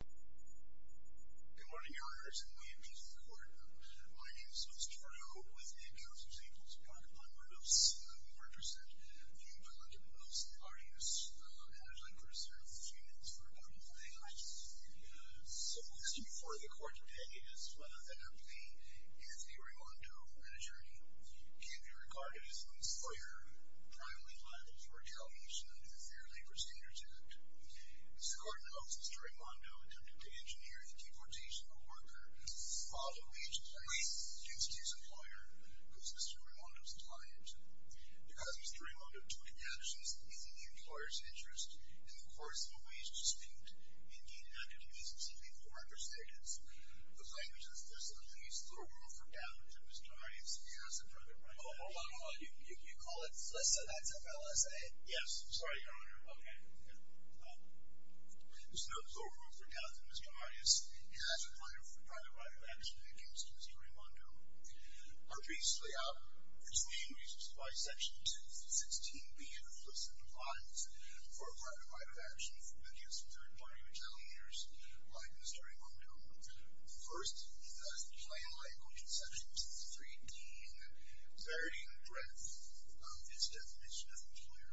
Good morning, Your Honors, and welcome to the Court. My name is Mr. Trudeau, with the counsel St. Paul's Park upon Mendoza. We are interested in the involvement of Mr. Arias, and I'd like to reserve a few minutes for a couple of questions. So, the question before the Court today is whether or not the Anthony Raimondo, an attorney, can be regarded as a lawyer privately liable for retaliation under the Fair Labor Standards Act. As the Court notes, Mr. Raimondo attempted to engineer the deportation of a worker while the wage claim was due to his employer, who is Mr. Raimondo's client. Because Mr. Raimondo took the actions in the employer's interest, in the course of a wage dispute, he did not give reasons simply for understatement. The claim is that the solicitor pleads the rule for damages. Mr. Arias, may I ask a further question? Hold on, hold on. You call it solicit? That's a FLSA? Yes. Sorry, Your Honor. Okay. This note is overruled for now. Mr. Arias, as a lawyer for a private right of action against Mr. Raimondo, our briefs lay out his main reasons why Section 216B of the FLSA applies for a private right of action against third-party retaliators like Mr. Raimondo. First, he does the plain language in Section 213D in the varying breadth of his definition of an employer.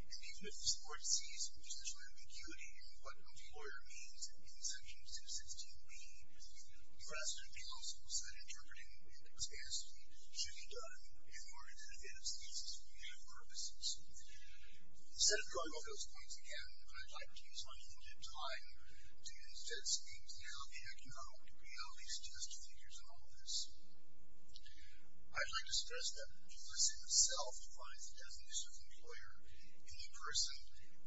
And even if this court sees institutional ambiguity in what an employer means in Section 216B, the rest of the counsels that interpret it in that capacity should be done in order to advance the thesis for future purposes. Instead of drawing off those points again, I'd like to use my limited time to instead speak to how the economic realities test the figures in all of this. I'd like to stress that the FLSA itself applies the definition of employer in the person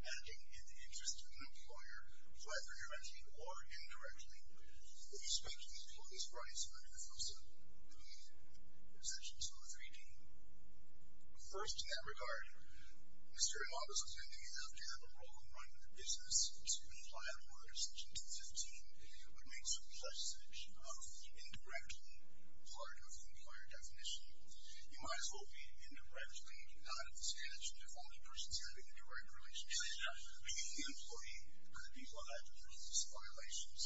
acting in the interest of an employer, whether directly or indirectly. If you speak to these points brought in under the FLSA, you'll need Section 213D. First, in that regard, Mr. Raimondo's attempting after a broken run of the business to apply the law under Section 215 would make such a passage of the indirectly part of the employer definition. You might as well be indirectly, not at this passage, if only the person's having a direct relationship with the employee or the people who have to deal with these violations.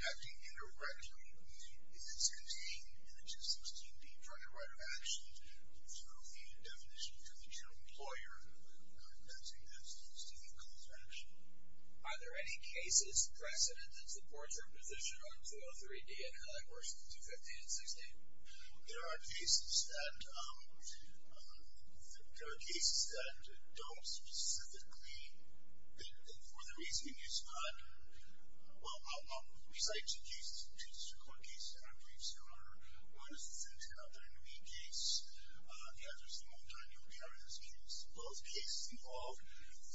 Acting indirectly in Section 16, in the 216B, for the right of action through the definition for the general employer, that's an instance to the cause of action. Are there any cases precedent that supports your position on 203D and how that works in 215 and 216? There are cases that don't specifically, for the reason that you spoke of, well, I'll recite two cases, two district court cases in our briefs. There are one assistant to another in the case. The answer is the Multinomial Barriers case. Both cases involve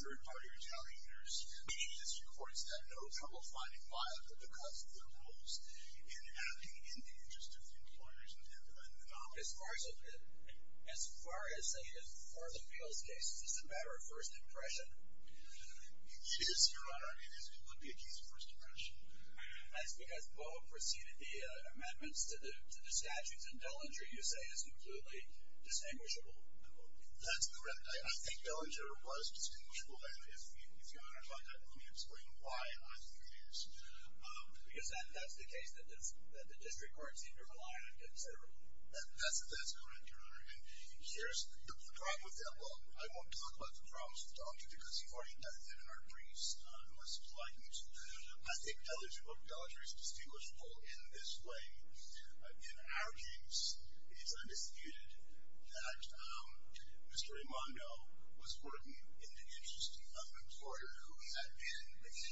third-party retaliators, meaning district courts that know how to find and file because of their roles in acting in the interest of employers and the nominee. As far as the Fields case, is this a matter of first impression? It is, Your Honor. It would be a case of first impression. That's because both preceded the amendments to the statutes, and Dellinger, you say, is completely distinguishable. That's correct. I think Dellinger was distinguishable, and if Your Honor's like that, let me explain why I think he is. Because that's the case that the district courts seem to rely on considerably. That's correct, Your Honor. And here's the problem with him. Well, I won't talk about the problems with Dr., because he already does it in our briefs. I think Dellinger is distinguishable in this way. In our case, it's undisputed that Mr. Raimondo was working in the interest of an employer who he had been. But he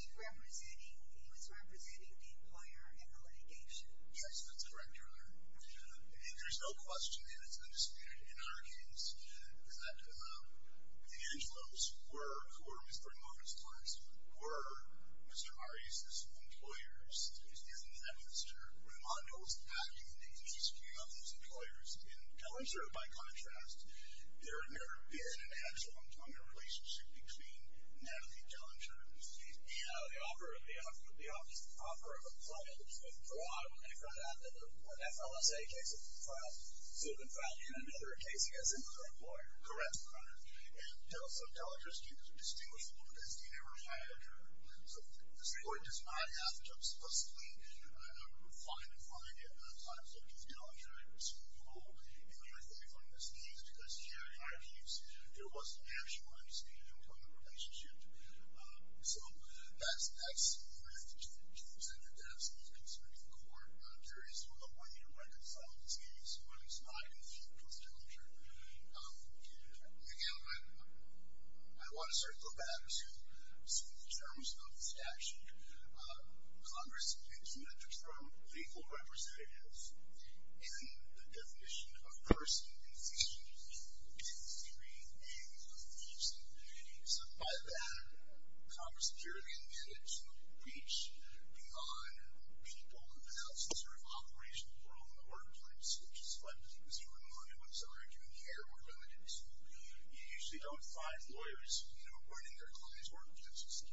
was representing the employer in the litigation. Yes, that's correct, Your Honor. And there's no question, and it's undisputed in our case, is that the Angelos, who were Mr. Raimondo's clients, were Mr. Ari's employers. And Mr. Raimondo was acting in the interest of those employers. In Dellinger, by contrast, there had never been an actual employment relationship between Natalie Dellinger and Mr. Raimondo. The opera of a client. For a lot of them, they found out that the FLSA case had been filed in another case against another employer. Correct, Your Honor. And so Dellinger's case is distinguishable, because he never had a job. So the district court does not have to explicitly find a client such as Dellinger. It's doable. And the other thing from this case, because here in our case, there was an actual understanding of the employment relationship. So that's correct. It's the district court. There is a way to reconcile these cases, but it's not in the case of Dellinger. Again, I want to circle back to some of the terms of this action. Congress exempts from legal representatives in the definition of first and second degree, and the third degree in the definition of first and second degree. So by that, Congress clearly intended to reach beyond people who have announced this sort of operational role in the workplace, which is what Mr. Raimondo was arguing here were limited to. You usually don't find lawyers running their clients' workplaces. So we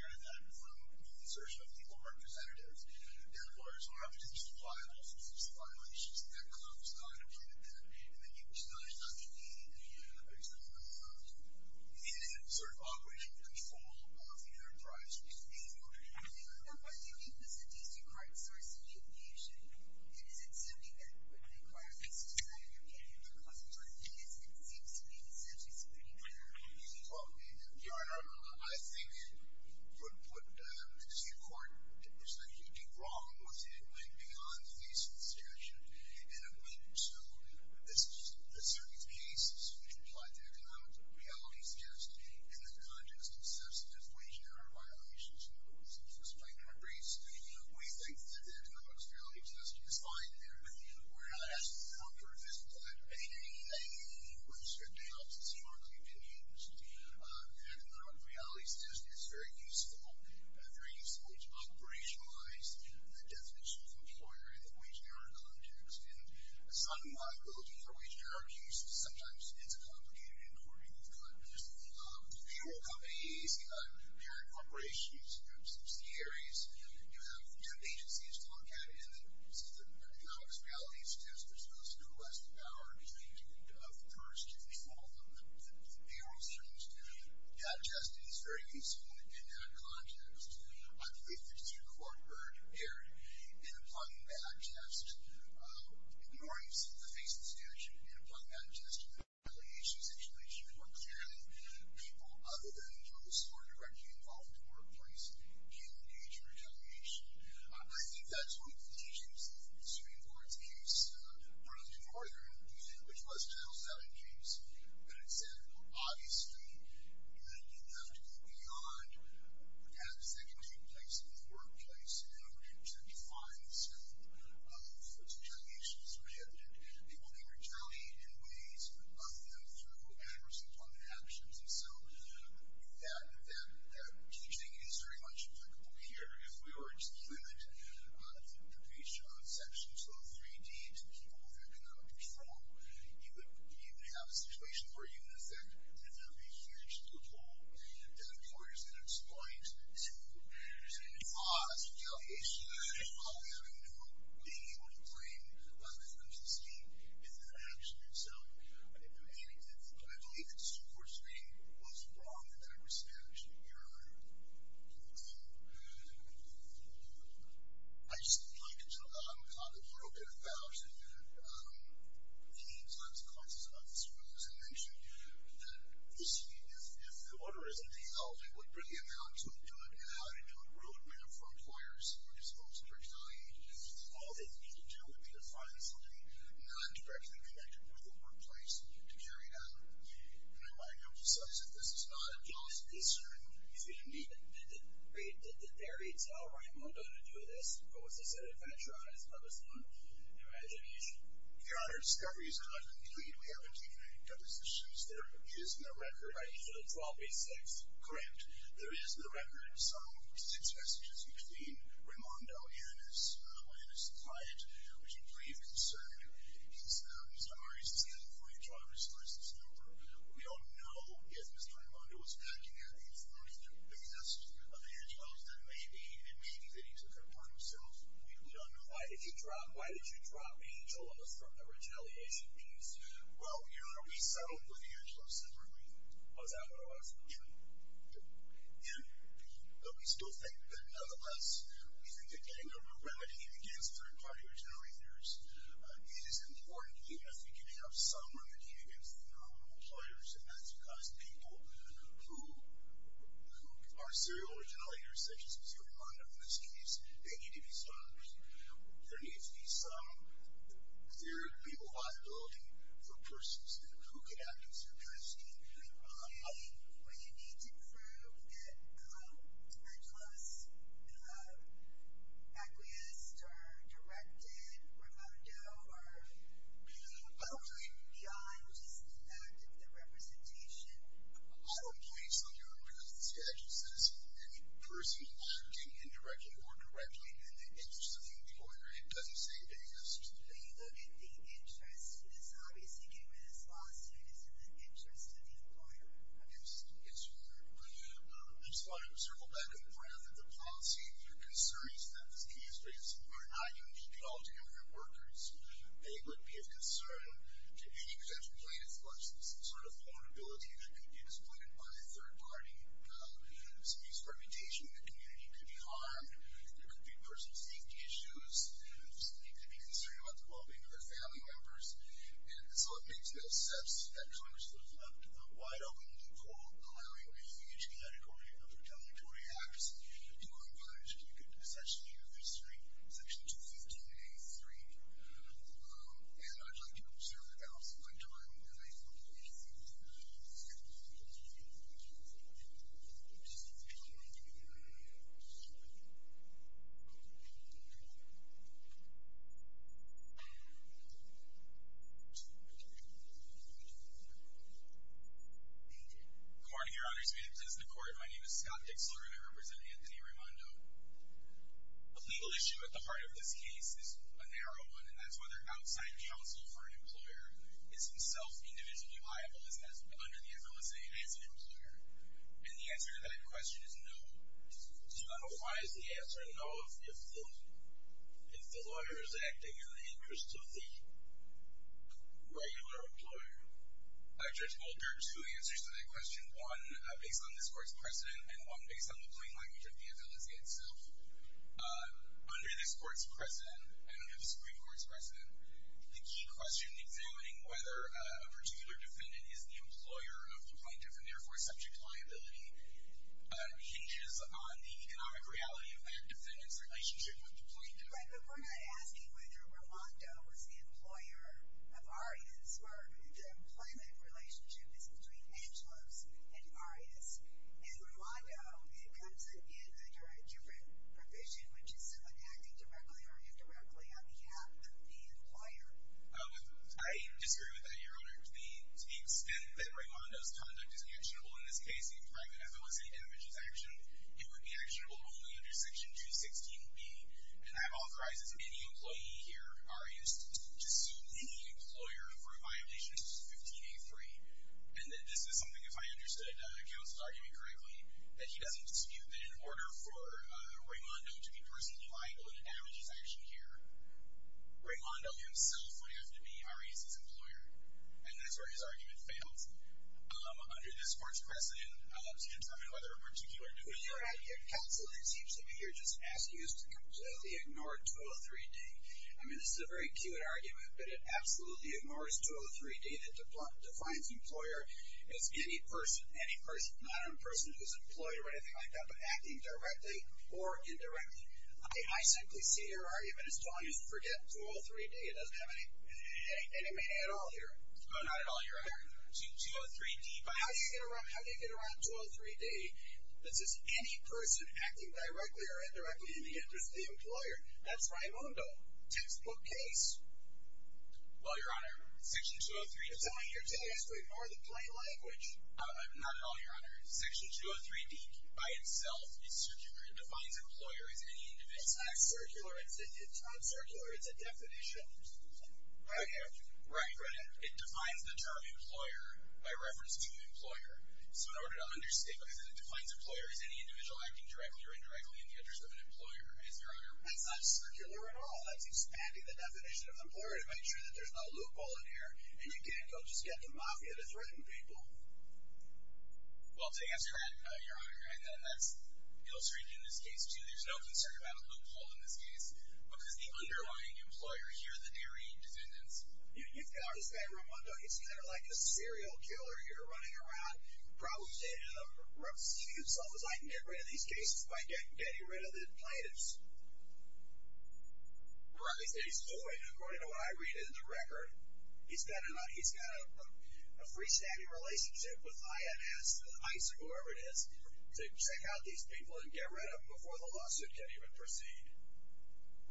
heard that from the assertion of legal representatives. Now, the lawyers will have to just apply all sorts of violations that Congress not included there. And then you can just say, there's not going to be a reasonable amount of money in an observable operational control of the enterprise. The third degree was the district court's source of information. It is assuming that when the court is deciding if you're getting into a customer's business, it seems to be essentially supporting that. Your Honor, I think it would put the district court, there's a huge problem with it, like beyond the basis of the statute, in a way to assume that certain cases which apply to economic reality tests in the context of substantive wage and hour violations, in other words, it's a spanker race. We think that the economic reality test is fine there, but we're not asking Congress to do that. We think that the district court's smartly been used, and the economic reality test is very useful. It's operationalized, the definition of employer in the wage and hour context. Assigning liability for wage and hour abuse, sometimes it's a complicated inquiry. You've got payroll companies, you've got parent corporations, you've got subsidiaries, you have agencies to look at, and the economic reality test is supposed to go to less than an hour, and, of course, to make all of the payroll strings to be digested is very useful in that context. I believe the district court heard in applying the bad test, in the face of the statute, in applying the bad test to the retaliation situation where clearly people other than those who are directly involved in the workplace can engage in retaliation. I think that's one of the issues in the Supreme Court's case in Northern, which was a Title VII case, and it said, well, obviously, you have to go beyond what happens in the workplace in order to define the scope of retaliation that's prohibited. People may retaliate in ways of them through adverse interactions, and so that teaching is very much applicable here. If we were to limit the base job section to the three Ds, people with economic control, you would have a situation where you would, in effect, have a huge loophole that employers can exploit to cause retaliation while being able to blame the person's team in that action, and so I believe that Supreme Court's reading was wrong in that respect. I just would like to talk a little bit about the consequences of this rule. As I mentioned, if the order isn't held, it would bring in how to do it and how to do a road map for employers who are disposed to retaliate. All they need to do would be to find something non-directly connected with the workplace to carry it out, and I might emphasize that this is not a legal concern. Excuse me. Did Barry tell Raimondo to do this, or was this a definition of his own imagination? Your Honor, the discovery is not complete. We haven't taken any depositions. There is no record. Right, so the 1286. Correct. There is no record. Some six messages between Raimondo and his client, which we believe concern his employee driver's license number. We don't know if Mr. Raimondo was acting on the information basis of Angelos, and maybe that he took it upon himself. We don't know. Why did you drop Angelos from the retaliation piece? Well, Your Honor, we settled with Angelos separately. Was that what it was? And we still think that, nonetheless, we think that getting a remedy against third-party retaliators is important, even if we can have some remedy against their own employers, and that's because people who are serial retaliators, such as Mr. Raimondo in this case, they need to be stopped. There needs to be some, there needs to be a liability for persons. Who could act in such a way? Well, you need to prove that Angelos acquiesced or directed Raimondo or be open beyond just the fact of the representation. I don't place on your behalf the status of any person acting indirectly or correctly in the interest of the employer. It doesn't say anything else. When you look at the interest, this obviously came in his lawsuit, it's in the interest of the employer. Yes, yes, Your Honor. I just want to circle back a little more after the policy. Your concern is that this case are not unique at all to immigrant workers. They would be of concern to any potential plaintiff unless there's some sort of vulnerability that could be exploited by a third party. Some experimentation in the community could be harmed. There could be personal safety issues. They could be concerned about the well-being of their family members. And so it makes no sense that Congress would have left a wide-open loophole allowing a huge category of retaliatory acts to be accomplished. You could essentially use Section 215-A-3. And I'd like to reserve the balance of my time and I hope to be able to see you tonight. Thank you. Good morning, Your Honors. My name is Scott Dixler and I represent Anthony Raimondo. The legal issue at the heart of this case is a narrow one, and that's whether outside counsel for an employer is himself individually liable under the FLSA as an employer. And the answer to that question is no. So I don't know why it's the answer no if the lawyer is acting in the interest of the regular employer. I, Judge Goldberg, two answers to that question. One, based on this court's precedent and one based on the plain language of the FLSA itself. Under this court's precedent, and under the Supreme Court's precedent, the key question examining whether a particular defendant is the employer of the plaintiff and therefore subject to liability hinges on the economic reality of that defendant's relationship with the plaintiff. Right, but we're not asking whether Raimondo was the employer of Arias. The employment relationship is between Angelos and Arias. And Raimondo comes in under a different provision, which is someone acting directly or indirectly on behalf of the employer. I disagree with that, Your Honor. To the extent that Raimondo's conduct is actionable, in this case a private FLSA damages action, it would be actionable only under Section 216B. And that authorizes any employee here, Arias, to sue any employer for a violation of Section 15A3. And this is something, if I understood, the counsel's argument correctly, that he doesn't dispute that in order for Raimondo to be personally liable in a damages action here, Raimondo himself would have to be Arias' employer. And that's where his argument fails. Under this court's precedent, to determine whether a particular defendant... Well, Your Honor, your counsel, it seems to me, you're just asking us to completely ignore 203D. I mean, this is a very cute argument, but it absolutely ignores 203D that defines employer as any person. Any person. Not a person who's employed or anything like that, but acting directly or indirectly. I simply see your argument as telling us to forget 203D. It doesn't have any meaning at all here. No, not at all, Your Honor. 203D... But how do you get around 203D that says any person acting directly or indirectly in the interest of the employer? That's Raimondo. Textbook case. Well, Your Honor, Section 203... You're telling me you're telling us to ignore the plain language? Uh, not at all, Your Honor. Section 203D by itself is circular. It defines employer as any individual. It's not circular. It's not circular. It's a definition. Right here. Right here. It defines the term employer by reference to employer. So in order to understate... Because it defines employer as any individual acting directly or indirectly in the interest of an employer. That's not circular at all. Well, that's expanding the definition of employer to make sure that there's no loophole in here. And you can't go just get the mafia to threaten people. Well, I guess you're right, Your Honor. That's ill-streaked in this case, too. There's no concern about a loophole in this case because the underlying employer here, the dairy defendants... You've got this guy Raimondo. He's kind of like a serial killer here running around probably stating to himself, I can get rid of these cases by getting rid of the plaintiffs. Right. And he's doing it according to what I read in the record. He's got a free-standing relationship with IMS, ICE, or whoever it is, to check out these people and get rid of them before the lawsuit can even proceed.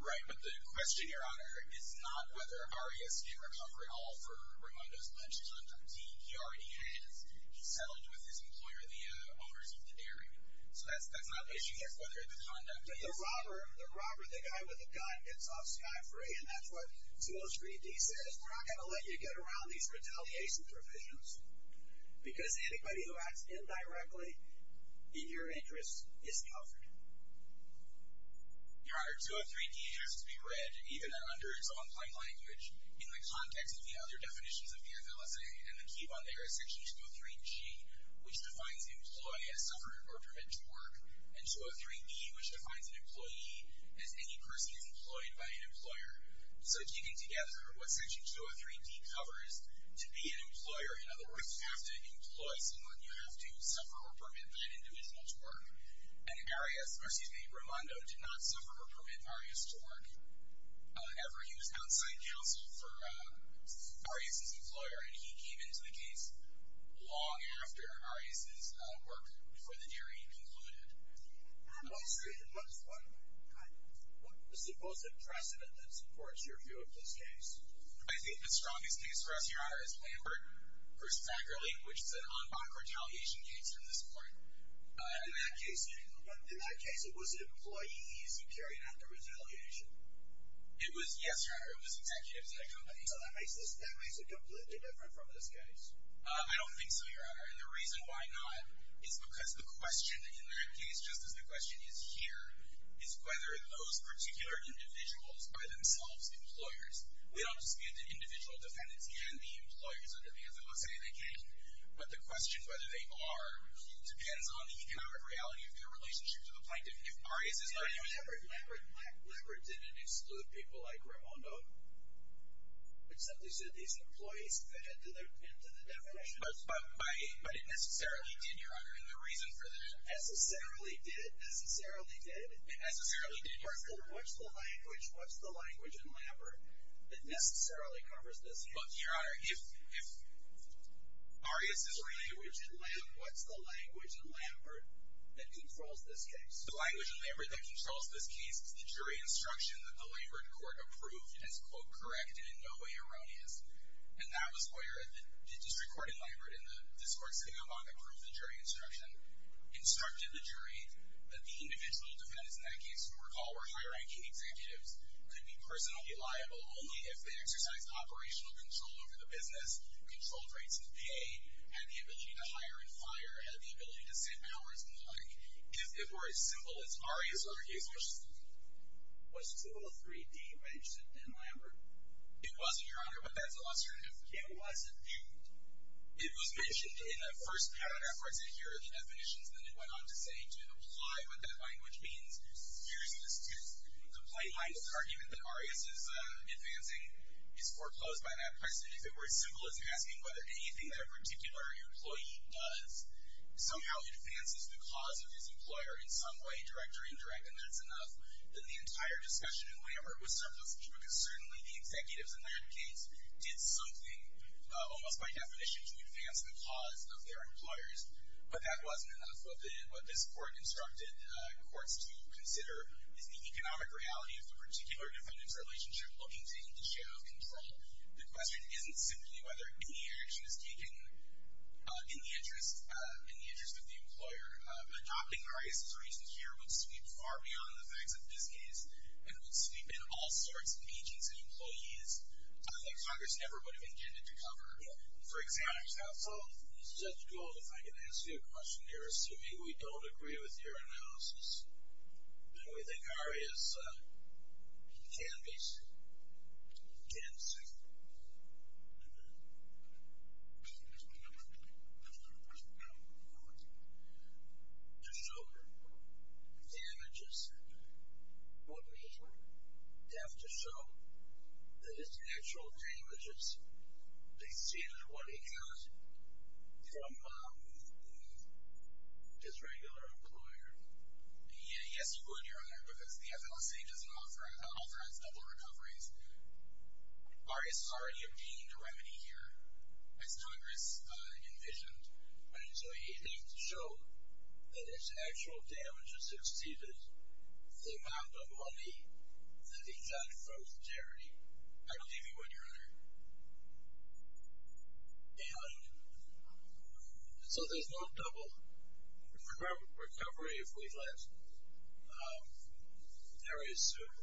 Right, but the question, Your Honor, is not whether Arias can recover at all for Raimondo's lunchtime fatigue. He already has. He's settled with his employer, the owners of the dairy. So that's not an issue yet whether the conduct is. But the robber, the guy with the gun, gets off scot-free, and that's what it's ill-streaked. He says, we're not going to let you get around these retaliation provisions because anybody who acts indirectly in your interest is covered. Your Honor, 203D has to be read, even under its own plain language, in the context of the other definitions of the FLSA and the key bond there is Section 203G, which defines employ as suffering or permit to work, and 203E, which defines an employee as any person who is employed by an employer. So, keeping together, what Section 203D covers, to be an employer, in other words, you have to employ someone, you have to suffer or permit that individual to work. And Arias, or excuse me, Raimondo, did not suffer or permit Arias to work ever. He was outside counsel for Arias' employer, and he came into the case long after Arias' work before the jury concluded. I'm not sure. What is the most important precedent that supports your view of this case? I think the strongest case for us here, Your Honor, is Lambert v. Ackerley, which is an en banc retaliation case from this point. In that case, it was employees who carried out the retaliation. It was, yes, Your Honor, it was executives at a company. So that makes it completely different from this case. I don't think so, Your Honor, and the reason why not is because the question in that case, just as the question is here, is whether those particular individuals were themselves employers. We don't dispute that individual defendants can be employers under the Anthropocene. They can't. But the question whether they are depends on the economic reality of their relationship to the plaintiff. If Arias is... Lambert didn't exclude people like Raimondo, except he said these employees fit into the definition. But it necessarily did, Your Honor, and the reason for that... Necessarily did? Necessarily did? It necessarily did, Your Honor. What's the language in Lambert that necessarily covers this case? Look, Your Honor, if Arias is... What's the language in Lambert that controls this case? The language in Lambert that controls this case is the jury instruction that the Lambert court approved as, quote, correct and in no way erroneous. And that was where the district court in Lambert and the discourt sitting above approved the jury instruction. Instructed the jury that the individual defendants in that case, if you recall, were high-ranking executives, could be personally liable only if they exercised operational control over the business, controlled rates of pay, had the ability to hire and fire, had the ability to save hours and the like. If it were as simple as Arias argues... What's 203D mentioned in Lambert? It wasn't, Your Honor, but that's illustrative. It wasn't? It was mentioned in the first paragraph where I said, here are the definitions, and then it went on to say, to imply what that language means, here's the plain language argument that Arias is advancing, is foreclosed by that person. If it were as simple as asking whether anything that a particular employee does somehow advances the cause of his employer in some way, direct or indirect, and that's enough, then the entire discussion in Lambert was surplus, because certainly the executives in that case did something, almost by definition, to advance the cause of their employers. But that wasn't enough. What this court instructed courts to consider is the economic reality of the particular defendant's relationship looking to take the share of control. The question isn't simply whether any action is taken in the interest of the employer. Adopting Arias' reasons here would sweep far beyond the facts of this case, and would sweep in all sorts of agents and employees that Congress never would have intended to cover. For example... Judge Gould, if I can ask you a question here, assuming we don't agree with your analysis, then we think Arias can be sued. Can be sued.... to show damages. Wouldn't he have to show that his actual damages exceeded what he got from his regular employer? Yes, you would, Your Honor, because the FLC doesn't offer us double recoveries. Arias has already obtained a remedy here. As Congress envisioned, and so he thinks to show that his actual damages exceeded the amount of money that he got from the charity. I believe you would, Your Honor. And... So there's no double recovery if we let Arias sue.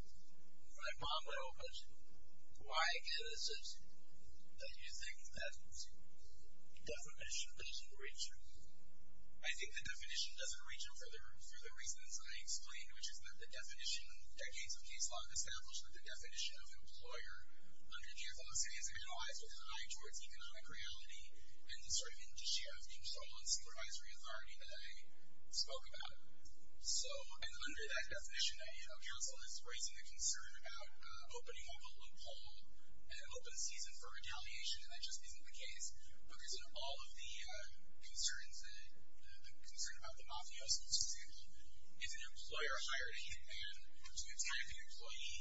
Why, again, is it that you think that definition doesn't reach him? I think the definition doesn't reach him for the reasons I explained, which is that the definition, decades of case law established that the definition of employer under the FLC is analyzed with high towards economic reality and the sort of indicia of control and supervisory authority that I spoke about. So, and under that definition, a counsel is raising a concern about opening up a loophole and an open season for retaliation and that just isn't the case. Because in all of the concerns, the concern about the mafiosos, for example, is an employer hired a hitman to attack the employee,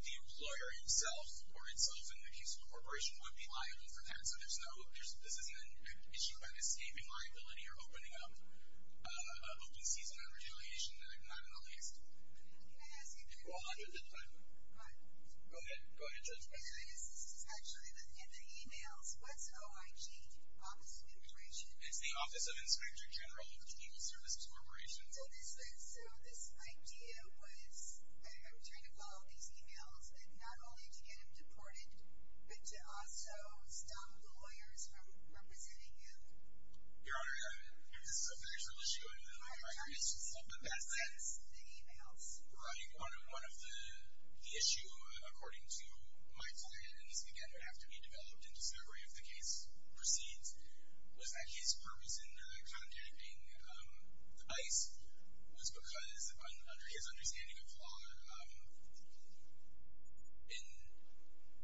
the employer himself or itself in the case of the corporation would be liable for that. So there's no, this isn't an issue about escaping liability or opening up an open season on retaliation, not in the least. Can I ask you a question? Go ahead. This is actually in the emails. What's OIG? Office of Immigration. It's the Office of Inspector General of the Legal Services Corporation. So this idea was I'm trying to follow these emails and not only to get him deported but to also stop the lawyers from representing him. Your Honor, if this is a factual issue, I think it's just the past tense. Yes, the emails. Your Honor, one of the issues according to my client, and this again would have to be developed in discovery if the case proceeds, was that his purpose in contacting ICE was because, under his understanding of law, an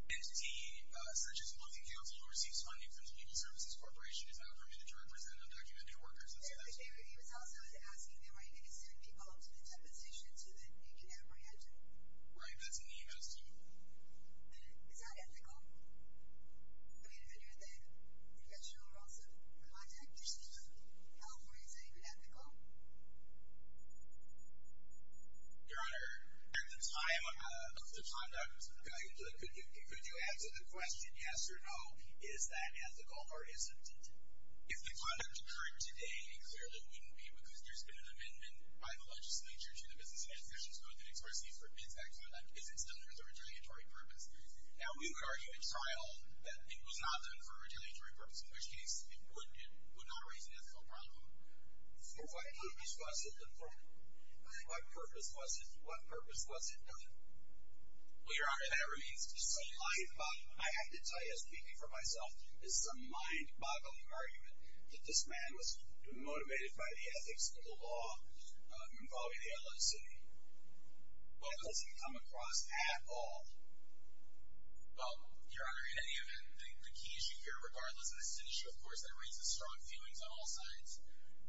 entity such as booking counsel who receives funding from the Legal Services Corporation is not permitted to represent undocumented workers. He was also asking if he could send people to the deposition so that he could apprehend them. Right, that's an email too. Is that ethical? I mean, under the professional roles of the contact person in California, is that even ethical? Your Honor, at the time of the conduct, could you answer the question yes or no? Is that ethical or isn't it? If the conduct occurred today, it clearly wouldn't be, because there's been an amendment by the legislature to the Business Administration's Code that explicitly forbids that conduct, is it still there as a retaliatory purpose? Now, we would argue in trial that it was not done for a retaliatory purpose, in which case it would not raise an ethical problem. For what purpose was it done? What purpose was it done? Well, Your Honor, that remains to be seen. I have to tell you, speaking for myself, this is a mind-boggling argument that this man was motivated by the ethics of the law involving the L.A. City. Well, has he come across at all? Well, Your Honor, in any event, the key issue here, regardless of the citizenship, of course, that raises strong feelings on all sides,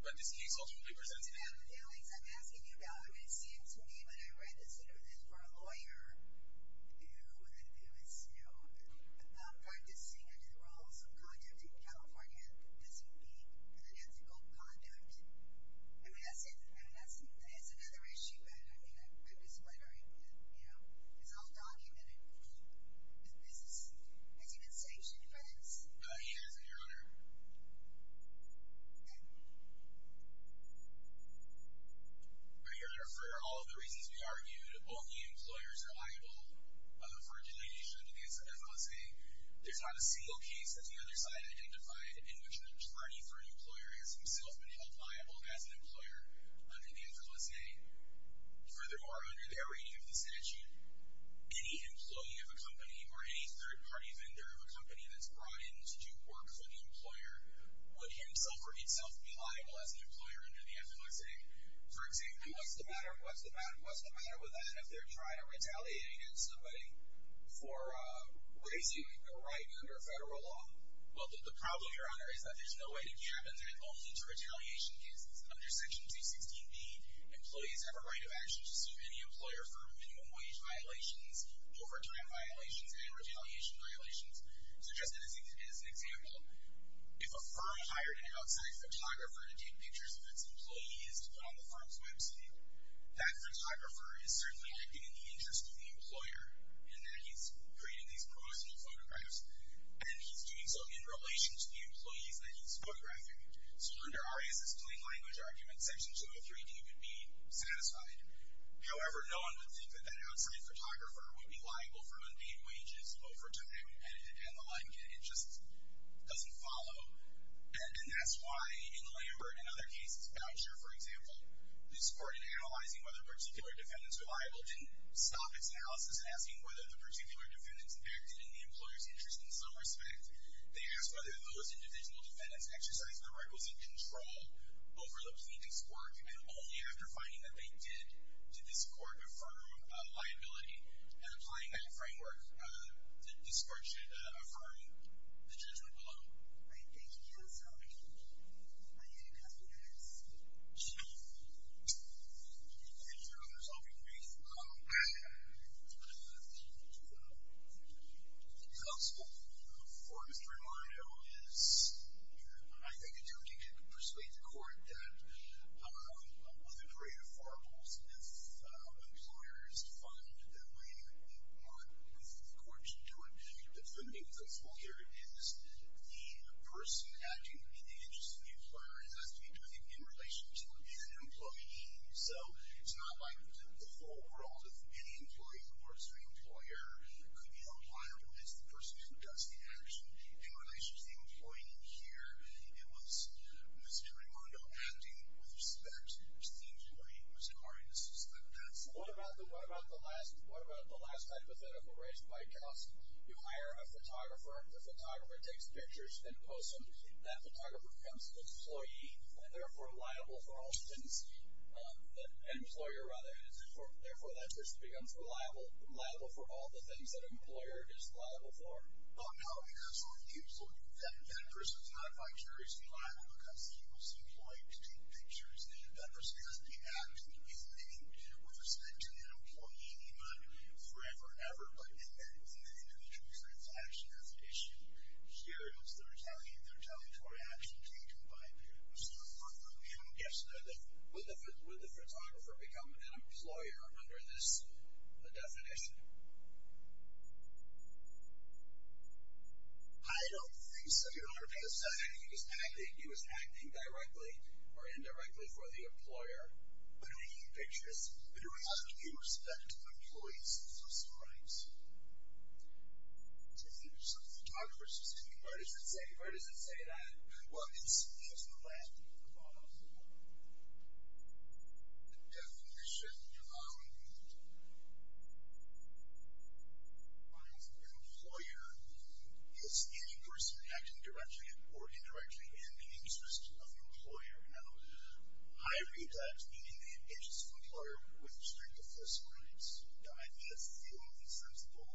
but this case ultimately presents that. I'm asking you about, I mean, it seems to me, when I read this letter, that for a lawyer who is, you know, practicing under the rules of conduct in California, that this would be unethical conduct. I mean, that's another issue that, I mean, I read this letter and, you know, it's all documented. Has he been sanctioned for this? He has, Your Honor. Your Honor, for all of the reasons we argued, only employers are liable for deletion under the FLSA. There's not a single case that the other side identified in which an attorney for an employer has himself been held liable as an employer under the FLSA. Furthermore, under their reading of the statute, any employee of a company or any third-party vendor of a company that's brought in to do work for the employer would himself or itself be liable For example, what's the matter with that if they're trying to retaliate against somebody for raising a right under federal law? Well, the problem, Your Honor, is that there's no way to cap it, and it only to retaliation cases. Under Section 216B, employees have a right of action to sue any employer for minimum wage violations, overtime violations, and retaliation violations. So just as an example, if a firm hired an outside photographer to take pictures of its employees to put on the firm's website, that photographer is certainly acting in the interest of the employer in that he's creating these promotional photographs, and he's doing so in relation to the employees that he's photographing. So under Arias's plain language argument, Section 203D would be satisfied. However, no one would think that that outside photographer would be liable for mundane wages, overtime, and the like. It just doesn't follow. And that's why, in Lambert and other cases, Boucher, for example, this court, in analyzing whether particular defendants were liable, didn't stop its analysis asking whether the particular defendants acted in the employer's interest in some respect. They asked whether those individual defendants exercised the requisite control over the plaintiff's work, and only after finding that they did, did this court affirm liability. And applying that framework, this court should affirm the judgment below. Right, thank you. Are there any other questions? If there are others, I'll be brief. Counsel, for Mr. Armando, is I think it's okay to persuade the court that with the creative variables, if employers fund that way, what the court should do in defending the employer is the person acting in the interest of the employer has to be doing it in relation to an employee. So, it's not like the full world of any employee who works for the employer could be unliable if it's the person who does the action in relation to the employee in here. It was Mr. Armando acting with respect, which seems to me, Mr. Hardy, to suspect that. What about the last hypothetical raised by Counsel? You hire a photographer. The photographer takes pictures and posts them. That photographer becomes an employee and, therefore, liable for all things that an employer, rather, therefore, that person becomes liable for all the things that an employer is liable for. Oh, no, Counsel. He was looking for that person is not vicariously liable because he was employed to take pictures. That person has to be acting, if anything, with respect to an employee, not forever ever, but in that individual's action as an issue. Here, it's the retaliatory action taken by Mr. Armando. Yes. Would the photographer become an employer under this definition? I don't think so, Your Honor. He was acting directly or indirectly for the employer. But he took pictures. How do you respect employees' social rights? Some photographer says to me, why does it say that? Well, it's the last word. The definition, Your Honor. An employer is any person acting directly or indirectly in the interest of an employer. I read that meaning the interest of an employer with respect to social rights. I think that's fairly sensible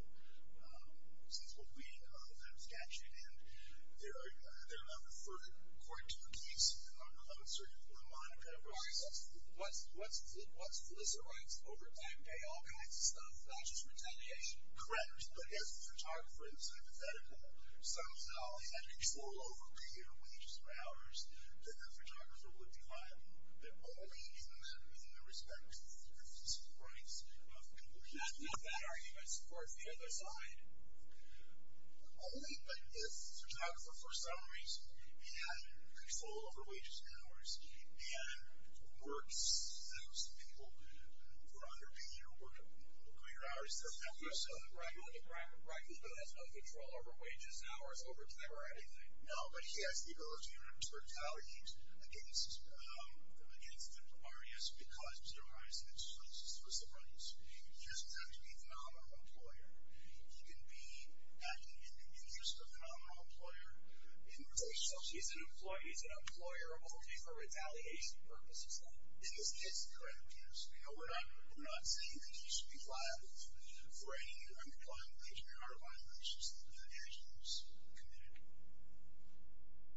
sensible reading of that statute. They're not referred, according to the case of Sir Ramon Pedraza. What's solicitor rights over time pay? All kinds of stuff, not just retaliation. Correct. But as a photographer, it's hypothetical. Some salary, I think it's a little over three-year wages or hours that the photographer would be hired. But only in the respect to the solicitor's rights of the other side. Only if the photographer for some reason had control over wages and hours and works those people for under a year or greater hours for a few years. Right. He has no control over wages and hours over time or anything. No. But he has the ability to retaliate against the barriers because of solicitor rights. He doesn't have to be a phenomenal employer. He can be just a phenomenal employer So he's an employee he's an employer only for retaliation purposes then? In this case, correct. Yes. We're not saying that he should be liable for any unemployment wage and hour violations that the statute has committed.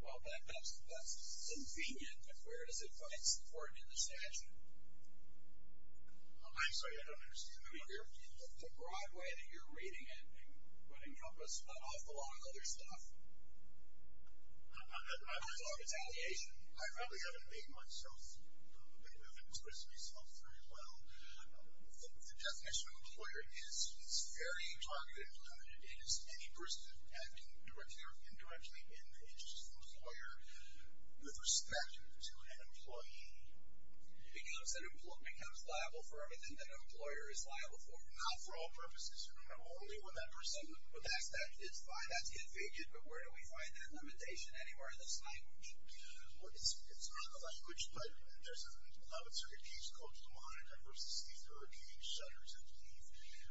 Well, that's convenient, but where does it support in the statute? I'm sorry. I don't understand. The broad way that you're reading it would encompass an awful lot of other stuff. Apart from retaliation. I probably haven't made myself I haven't expressed myself very well. The definition of employer is very targeted and limited. It is any person acting directly or indirectly in the interest of the employer with respect to an employee. Because an employee becomes liable for everything that an employer is liable for. Not for all purposes. Not only when that person would ask that it's fine, that's yet fated, but where do we find that limitation anywhere in this language? Well, it's not a language, but there's a 11th Circuit case called Lamont-Edvers' C-13 Shudders and Thief,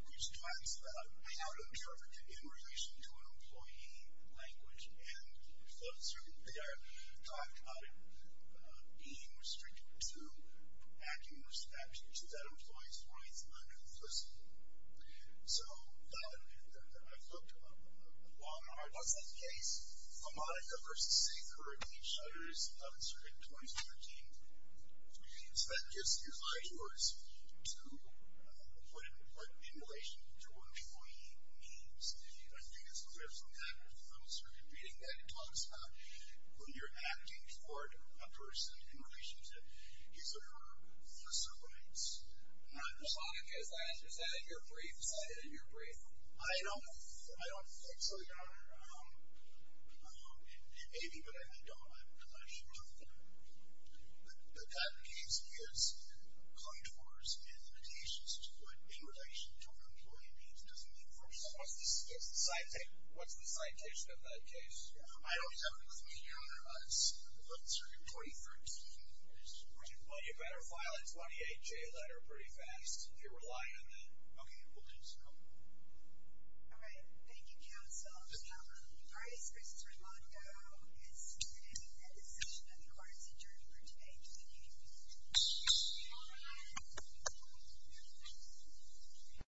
which talks about how to interpret it in relation to an employee language and the 11th Circuit they talked about it being restricted to acting with respect to that employee's rights, not implicitly. So, I've looked at Lamont-Edvers' case Lamont-Edvers' C-13 Shudders, 11th Circuit, 2013 So that gives you five tours to put it in relation to what employee means. I think it's clear from that 11th that when you're acting toward a person in relation to his or her personal rights not implicitly. Is that in your brief? I don't think so, Your Honor. Maybe, but I don't because I should not think that that case gives contours and limitations to put in relation to what employee means. What's the citation of that case? Well, you better file a 28-J letter pretty fast if you're relying on that. Okay, we'll do so. All right. Thank you, Counsel. Your Honor, Bryce vs. Ramondo is the decision of the courts adjourned for today. Thank you.